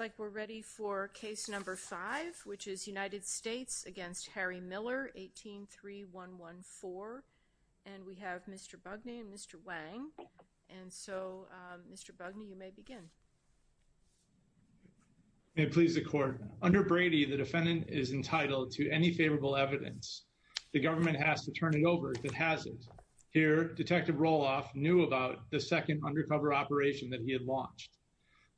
183114 and we have Mr. Bugney and Mr. Wang and so Mr. Bugney you may begin. May it please the court. Under Brady the defendant is entitled to any favorable evidence. The government has to turn it over if it hasn't. Here, Detective Roloff knew about the second undercover operation that he had launched.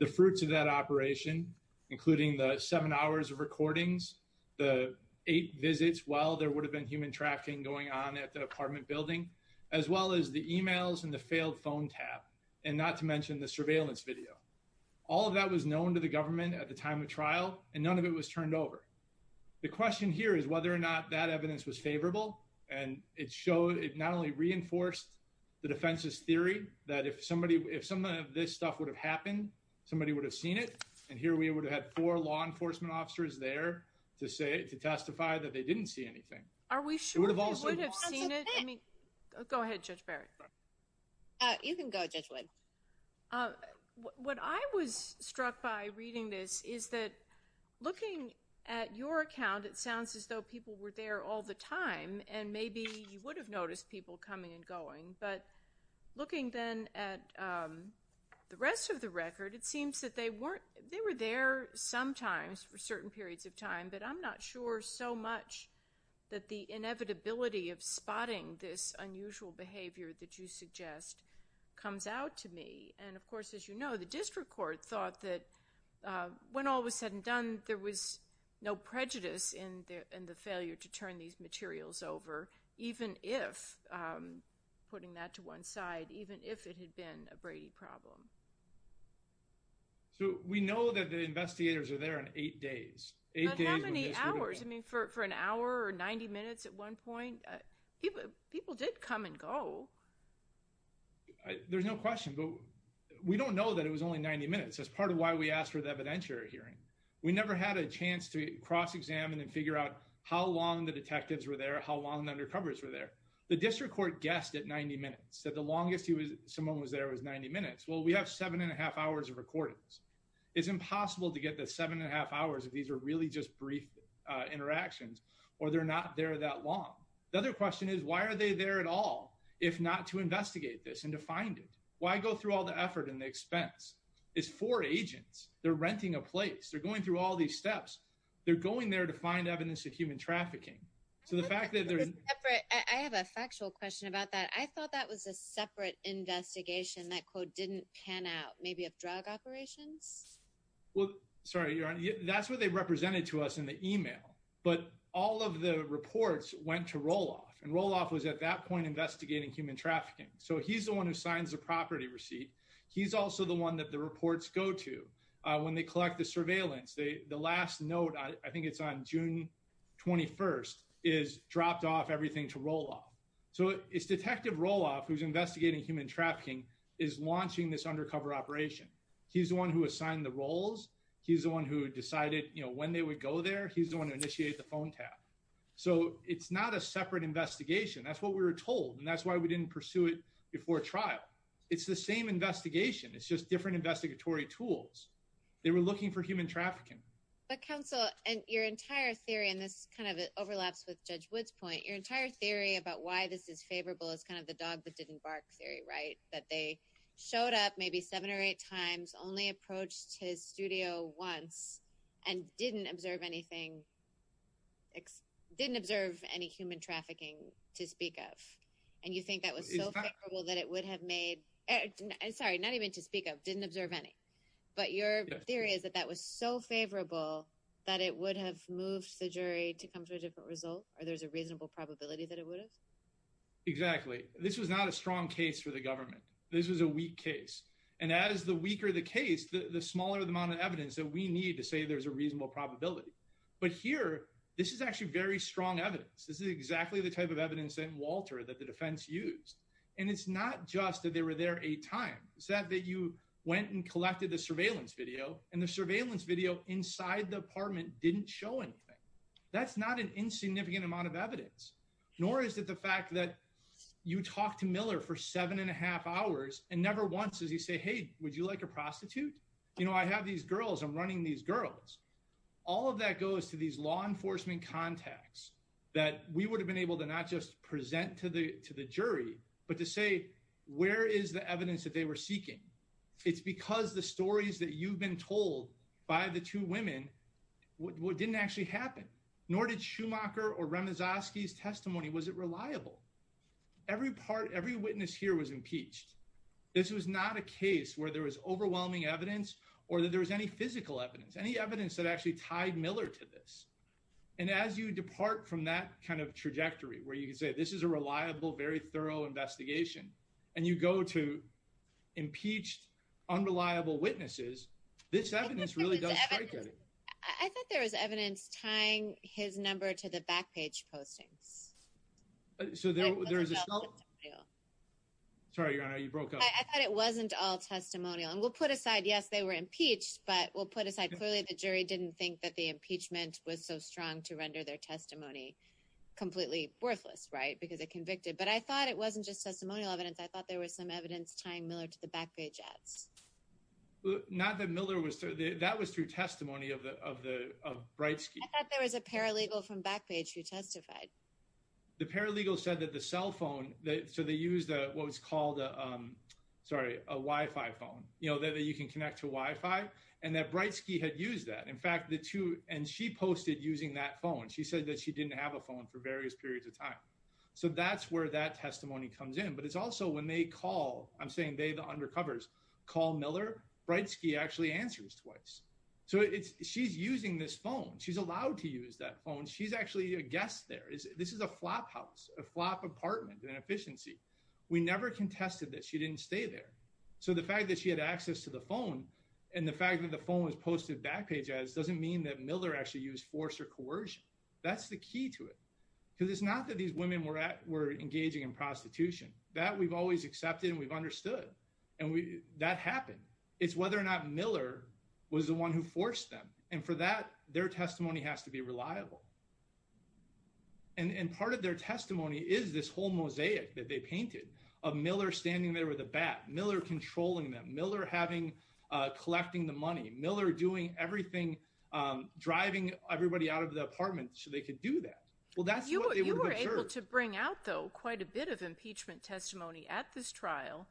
The fruits of that operation, including the seven hours of recordings, the eight visits while there would have been human trafficking going on at the apartment building, as well as the emails and the failed phone tap, and not to mention the surveillance video. All of that was known to the government at the time of trial and none of it was turned over. The question here is whether or not that evidence was favorable and it showed it not only reinforced the defense's theory that if somebody if some of this stuff would have happened somebody would have seen it and here we would have had four law enforcement officers there to say to testify that they didn't see anything. Are we sure? Go ahead Judge Barrett. You can go Judge Wood. What I was struck by reading this is that looking at your account it sounds as though people were there all the time and maybe you would have noticed people coming and going but looking then at the rest of the record it seems that they weren't they were there sometimes for certain periods of time but I'm not sure so much that the inevitability of spotting this unusual behavior that you suggest comes out to me and of course as you know the district court thought that when all was said and done there was no prejudice in the failure to turn these materials over even if putting that to one side even if it had been a Brady problem. So we know that the investigators are there in eight days. But how many hours? I mean for an hour or 90 minutes at one point? People did come and go. There's no question but we don't know that it was only 90 minutes. That's part of why we asked for the evidentiary hearing. We never had a question about how long the detectives were there, how long the undercovers were there. The district court guessed at 90 minutes that the longest he was someone was there was 90 minutes. Well we have seven and a half hours of recordings. It's impossible to get the seven and a half hours if these are really just brief interactions or they're not there that long. The other question is why are they there at all if not to investigate this and to find it? Why go through all the effort and the expense? It's for agents. They're renting a place. They're going through all these steps. They're going there to find evidence of human trafficking. I have a factual question about that. I thought that was a separate investigation. That quote didn't pan out. Maybe of drug operations? Well sorry your honor. That's what they represented to us in the email. But all of the reports went to Roloff and Roloff was at that point investigating human trafficking. So he's the one who signs the property receipt. He's also the one that the reports go to when they collect the surveillance. The last note I think it's on June 21st is dropped off everything to Roloff. So it's Detective Roloff who's investigating human trafficking is launching this undercover operation. He's the one who assigned the roles. He's the one who decided you know when they would go there. He's the one who initiated the phone tap. So it's not a separate investigation. That's what we were told and that's why we didn't pursue it before trial. It's the same investigation. It's just different investigatory tools. They were looking for human trafficking. But counsel and your entire theory and this kind of overlaps with Judge Woods point. Your entire theory about why this is favorable is kind of the dog that didn't bark theory right? That they showed up maybe seven or eight times only approached his studio once and didn't observe anything. Didn't observe any human trafficking to speak of. And you think that was so favorable that it would have made I'm sorry not even to speak of didn't observe any. But your theory is that that was so favorable that it would have moved the jury to come to a different result or there's a reasonable probability that it would have? Exactly. This was not a strong case for the government. This was a weak case and as the weaker the case the smaller the amount of evidence that we need to say there's a reasonable probability. But here this is actually very strong evidence. This is exactly the type of evidence that Walter that the defense used. And it's not just that they were there a time. It's that that you went and collected the surveillance video and the surveillance video inside the apartment didn't show anything. That's not an insignificant amount of evidence. Nor is it the fact that you talk to Miller for seven and a half hours and never once does he say hey would you like a prostitute? You know I have these girls I'm running these girls. All of that goes to these law enforcement contacts that we would have been able to not just present to the to the jury but to say where is the evidence that they were seeking. It's because the stories that you've been told by the two women what didn't actually happen. Nor did Schumacher or Remazoski's testimony. Was it reliable? Every part every witness here was impeached. This was not a case where there was overwhelming evidence or that there was any physical evidence. Any evidence that actually tied Miller to this. And as you depart from that kind of trajectory where you can say this is a reliable very thorough investigation and you go to impeached unreliable witnesses this evidence really does strike at it. I thought there was evidence tying his number to the back page postings. Sorry your honor you broke up. I thought it wasn't all impeached but we'll put aside clearly the jury didn't think that the impeachment was so strong to render their testimony completely worthless right because it convicted. But I thought it wasn't just testimonial evidence I thought there was some evidence tying Miller to the back page ads. Not that Miller was through that was through testimony of the of the of Breitsky. I thought there was a paralegal from back page who testified. The paralegal said that the cell phone that so they used what was called sorry a Wi-Fi phone you know that you can connect to Wi-Fi and that Breitsky had used that. In fact the two and she posted using that phone she said that she didn't have a phone for various periods of time. So that's where that testimony comes in but it's also when they call I'm saying they the undercovers call Miller Breitsky actually answers twice. So it's she's using this phone she's allowed to use that phone she's actually a guest there. This is a flop house a flop apartment in an efficiency. We never contested that she didn't stay there. So the fact that she had access to the phone and the fact that the phone was posted back page ads doesn't mean that Miller actually used force or coercion. That's the key to it because it's not that these women were at were engaging in prostitution. That we've always accepted and we've understood and we that happened. It's whether or not Miller was the one who forced them and for that their testimony has to be reliable. And part of their testimony is this whole mosaic that they painted of standing there with a bat. Miller controlling them. Miller having collecting the money. Miller doing everything driving everybody out of the apartment so they could do that. Well that's what they were able to bring out though quite a bit of impeachment testimony at this trial.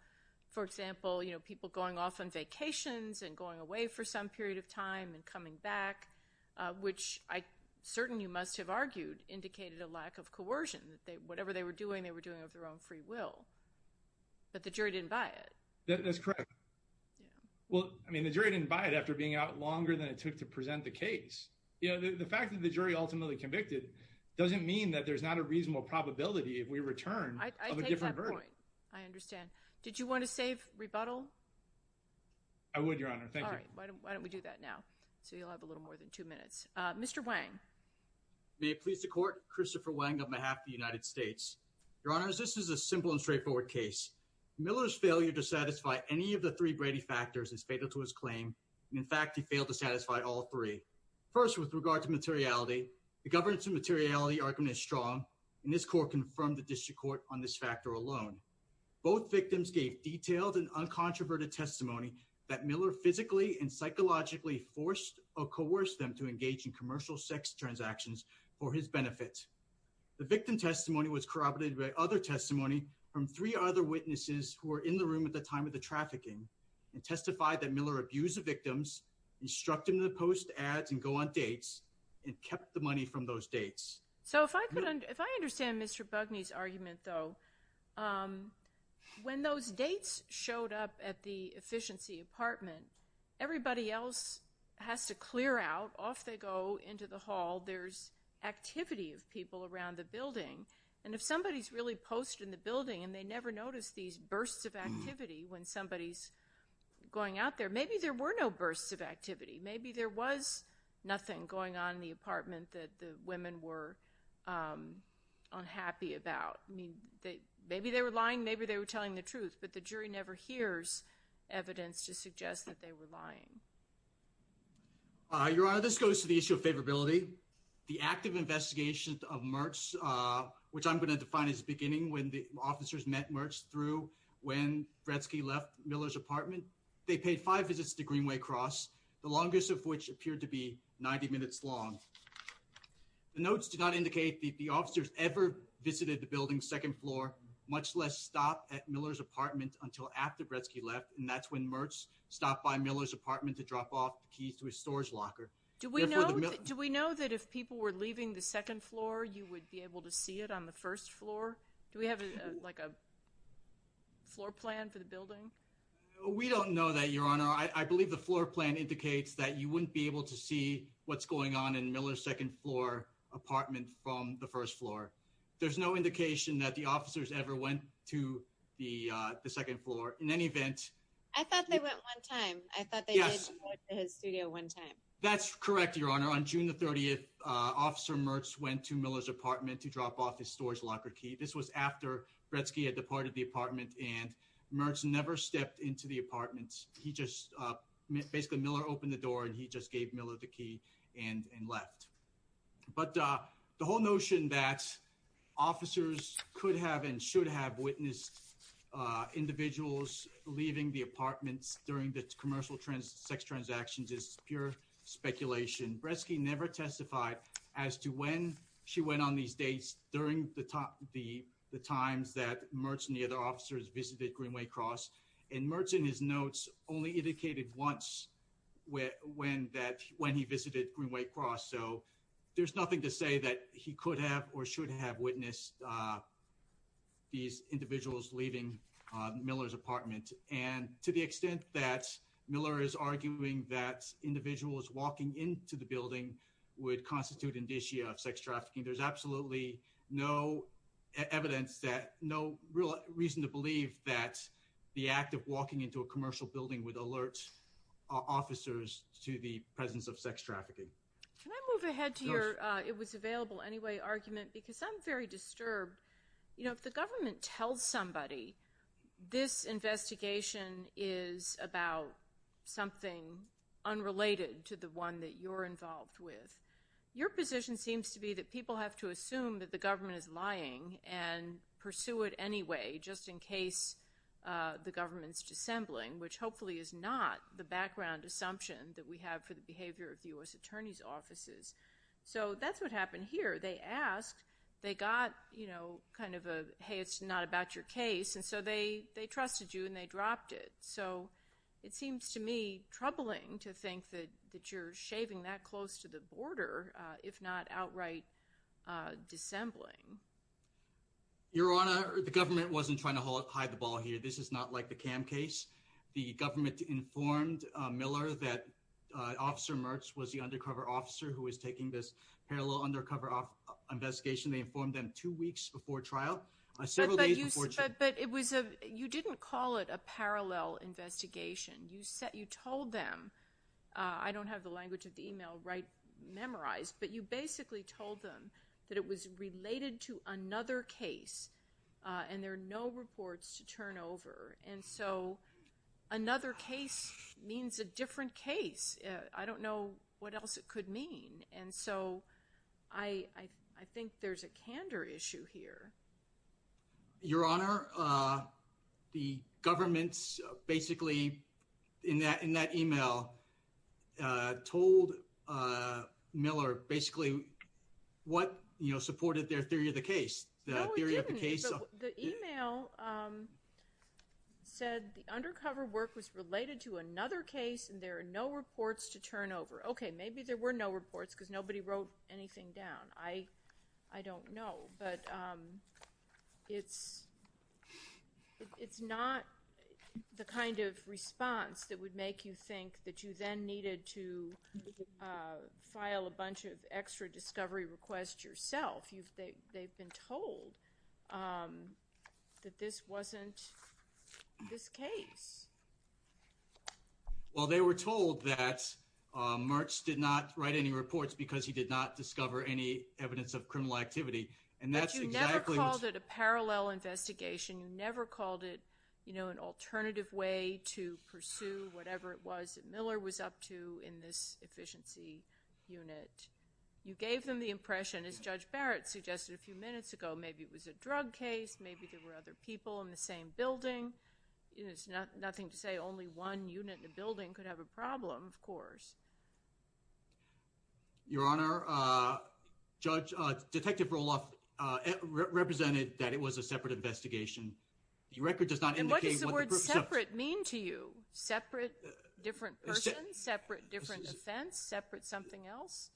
For example you know people going off on vacations and going away for some period of time and coming back which I certainly must have argued indicated a lack of coercion. Whatever they were doing they were doing of their own free will. But the jury didn't buy it. That's correct. Well I mean the jury didn't buy it after being out longer than it took to present the case. You know the fact that the jury ultimately convicted doesn't mean that there's not a reasonable probability if we return. I understand. Did you want to save rebuttal? I would Your Honor. Thank you. Why don't we do that now. So you'll have a little more than two minutes. Mr. Wang. May it please the court. Christopher Wang on behalf of the United States. Your Honors this is a simple and straightforward case. Miller's failure to satisfy any of the three Brady factors is fatal to his claim. In fact he failed to satisfy all three. First with regard to materiality the governance and materiality argument is strong and this court confirmed the district court on this factor alone. Both victims gave detailed and uncontroverted testimony that Miller physically and psychologically forced or coerced them to transactions for his benefit. The victim testimony was corroborated by other testimony from three other witnesses who were in the room at the time of the trafficking and testified that Miller abused the victims, instruct him to post ads and go on dates and kept the money from those dates. So if I could if I understand Mr. Bugney's argument though when those dates showed up at the efficiency apartment everybody else has to clear out off they go into the hall there's activity of people around the building and if somebody's really post in the building and they never notice these bursts of activity when somebody's going out there maybe there were no bursts of activity maybe there was nothing going on in the apartment that the women were unhappy about. I mean they maybe they were lying maybe they were telling the truth but the jury never hears evidence to suggest that they were lying. Your Honor this goes to the issue of favorability. The active investigation of Mertz which I'm going to define as beginning when the officers met Mertz through when Bretzky left Miller's apartment they paid five visits to Greenway Cross the longest of which appeared to be 90 minutes long. The notes do not indicate that the officers ever visited the building second floor much less stop at Miller's apartment until after Bretzky left and that's when Mertz stopped by Miller's apartment to drop off the keys to his storage locker. Do we know do we know that if people were leaving the second floor you would be able to see it on the first floor do we have like a floor plan for the building? We don't know that Your Honor I believe the floor plan indicates that you wouldn't be able to see what's going on in Miller's second floor apartment from the first floor. There's no indication that the officers ever went to the the second floor in any event I thought they went one time. I thought they went to his studio one time. That's correct Your Honor on June the 30th officer Mertz went to Miller's apartment to drop off his storage locker key this was after Bretzky had departed the apartment and Mertz never stepped into the apartment he just basically Miller opened the door and he just gave Miller the key and and left. But the whole notion that officers could have and should have witnessed individuals leaving the apartments during the commercial sex transactions is pure speculation. Bretzky never testified as to when she went on these dates during the times that Mertz and the other officers visited Greenway Cross and Mertz in his notes only indicated once when that when he visited Greenway Cross so there's nothing to say that he could have or individuals leaving Miller's apartment and to the extent that Miller is arguing that individuals walking into the building would constitute indicia of sex trafficking there's absolutely no evidence that no real reason to believe that the act of walking into a commercial building would alert officers to the presence of sex trafficking. Can I move ahead to your it was available anyway argument because I'm very disturbed you know if the government tells somebody this investigation is about something unrelated to the one that you're involved with your position seems to be that people have to assume that the government is lying and pursue it anyway just in case the government's dissembling which hopefully is not the background assumption that we have for U.S. attorney's offices so that's what happened here they asked they got you know kind of a hey it's not about your case and so they they trusted you and they dropped it so it seems to me troubling to think that that you're shaving that close to the border if not outright dissembling. Your Honor the government wasn't trying to hide the ball here this is not like the cam case the government informed Miller that officer Mertz was the undercover officer who is taking this parallel undercover investigation they informed them two weeks before trial. But it was a you didn't call it a parallel investigation you said you told them I don't have the language of the email right memorized but you basically told them that it was related to another case and there are no reports to turn over and so another case means a different case I don't know what else it could mean and so I I think there's a candor issue here. Your Honor the government's basically in that in that email told Miller basically what you know supported their theory of the case the theory of the email said the undercover work was related to another case and there are no reports to turn over okay maybe there were no reports because nobody wrote anything down I I don't know but it's it's not the kind of response that would make you think that you then needed to file a bunch of extra discovery requests yourself you've they they've been told that this wasn't this case. Well they were told that Mertz did not write any reports because he did not discover any evidence of criminal activity and that's exactly. You never called it a parallel investigation you never called it you know an alternative way to pursue whatever it was that Miller was up to in this efficiency unit you gave them the Barrett suggested a few minutes ago maybe it was a drug case maybe there were other people in the same building it's not nothing to say only one unit in the building could have a problem of course. Your Honor Judge Detective Roloff represented that it was a separate investigation the record does not mean to you separate different separate different defense separate something else?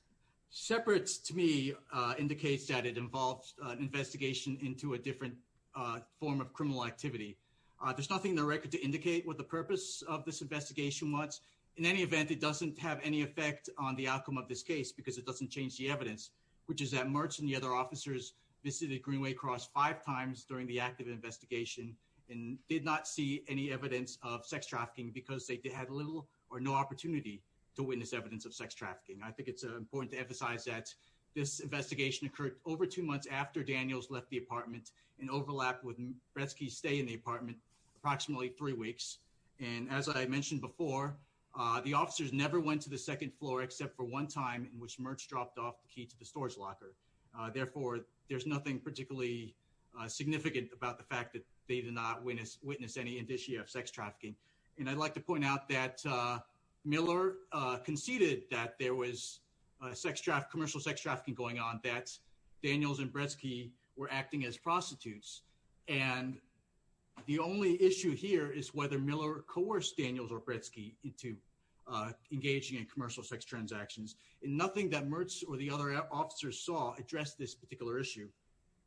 Separates to me indicates that it involves an investigation into a different form of criminal activity there's nothing in the record to indicate what the purpose of this investigation was in any event it doesn't have any effect on the outcome of this case because it doesn't change the evidence which is that Mertz and the other officers visited Greenway Cross five times during the active investigation and did not see any evidence of sex trafficking I think it's important to emphasize that this investigation occurred over two months after Daniels left the apartment and overlapped with Bretsky stay in the apartment approximately three weeks and as I mentioned before the officers never went to the second floor except for one time in which Mertz dropped off the key to the storage locker therefore there's nothing particularly significant about the fact that they did not witness witness any indicia of sex trafficking and I'd like to point out that Miller conceded that there was sex traffic commercial sex trafficking going on that's Daniels and Bretsky were acting as prostitutes and the only issue here is whether Miller coerced Daniels or Bretsky into engaging in commercial sex transactions and nothing that Mertz or the other officers saw addressed this particular issue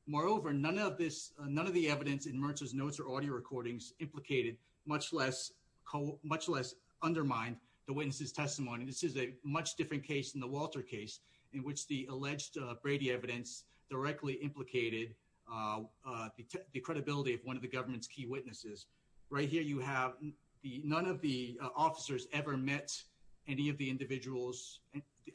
moreover none of this none of the evidence in Mertz's notes or audio recordings implicated much less much less undermined the witnesses testimony this is a much different case in the Walter case in which the alleged Brady evidence directly implicated the credibility of one of the government's key witnesses right here you have the none of the officers ever met any of the individuals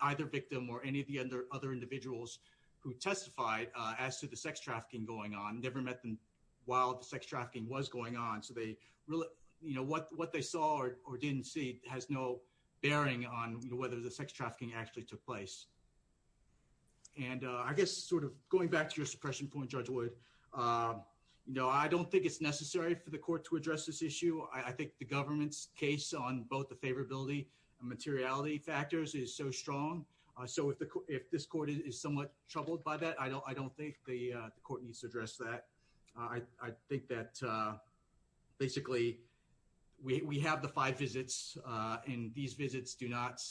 either victim or any of the other other individuals who testified as to the sex trafficking going on never met them while the sex trafficking was going on so they really you know what what they saw or didn't see has no bearing on whether the sex trafficking actually took place and I guess sort of going back to your suppression point judge would you know I don't think it's necessary for the court to address this issue I think the government's case on both the favorability and materiality factors is so strong so if the court if this court is somewhat troubled by that I don't I don't think the court needs to address that I think that basically we have the five visits and these visits do not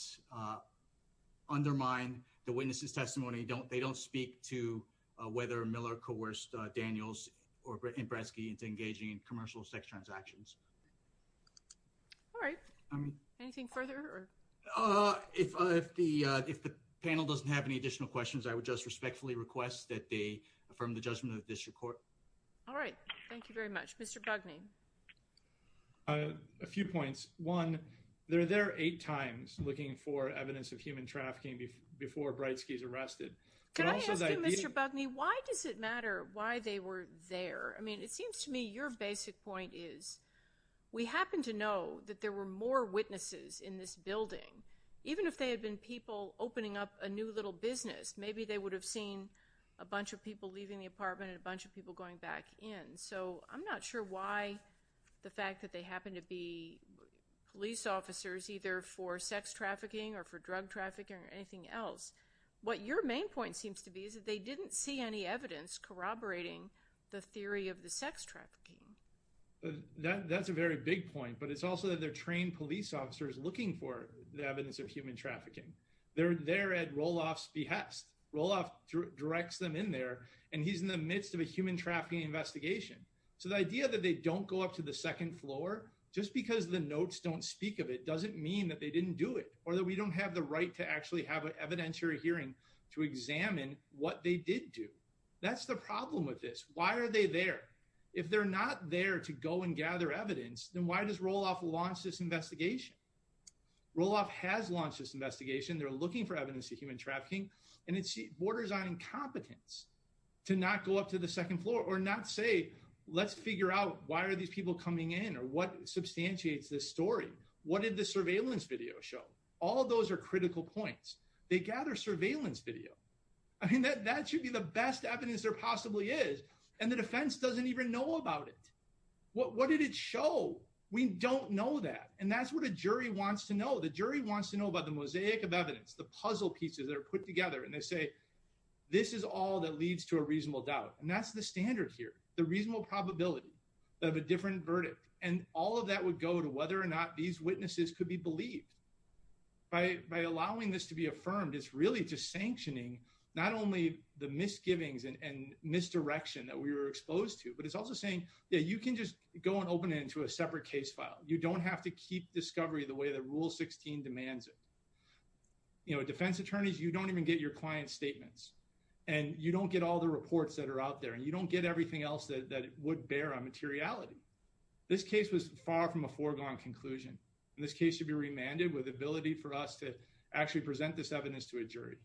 undermine the witnesses testimony don't they don't speak to whether Miller coerced Daniels or Britain Bradsky into engaging in commercial sex transactions all right I mean anything further uh if the if the panel doesn't have any additional questions I would just respectfully request that they affirm the judgment of this report all right thank you very much mr. bug me a few points one they're there eight times looking for evidence of human trafficking before Bradsky's arrested mr. bug me why does it matter why they were there I mean it seems to me your basic point is we happen to know that there were more witnesses in this building even if they had been people opening up a new little business maybe they would have seen a bunch of people leaving the apartment a bunch of people going back in so I'm not sure why the fact that they happen to be police officers either for sex trafficking or for drug trafficking or anything else what your main point seems to be is that they didn't see any evidence corroborating the theory of the sex trafficking that that's a very big point but it's also that they're trained police officers looking for the evidence of human trafficking they're there at Roloff's behest Roloff directs them in there and he's in the midst of a human trafficking investigation so the idea that they don't go up to the second floor just because the notes don't speak of it doesn't mean that they didn't do it or that we don't have the right to actually have an evidentiary hearing to examine what they did do that's the problem with this why are they there if they're not there to go and gather evidence then why does Roloff launch this investigation Roloff has launched this investigation they're looking for evidence of human trafficking and it borders on incompetence to not go up to the second floor or not say let's figure out why are these people coming in or what substantiates this story what did the surveillance video show all those are critical points they gather surveillance video I mean that that should be the best evidence there we don't know that and that's what a jury wants to know the jury wants to know about the mosaic of evidence the puzzle pieces that are put together and they say this is all that leads to a reasonable doubt and that's the standard here the reasonable probability of a different verdict and all of that would go to whether or not these witnesses could be believed by allowing this to be affirmed it's really just sanctioning not only the misgivings and misdirection that we were exposed to but it's also saying yeah you can just go and open it into a separate case file you don't have to keep discovery the way that rule 16 demands it you know defense attorneys you don't even get your client statements and you don't get all the reports that are out there and you don't get everything else that would bear on materiality this case was far from a foregone conclusion in this case should be remanded with ability for us to actually present this evidence to a jury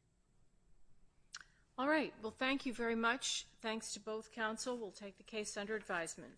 all right well thank you very much thanks to both counsel we'll take the case under advisement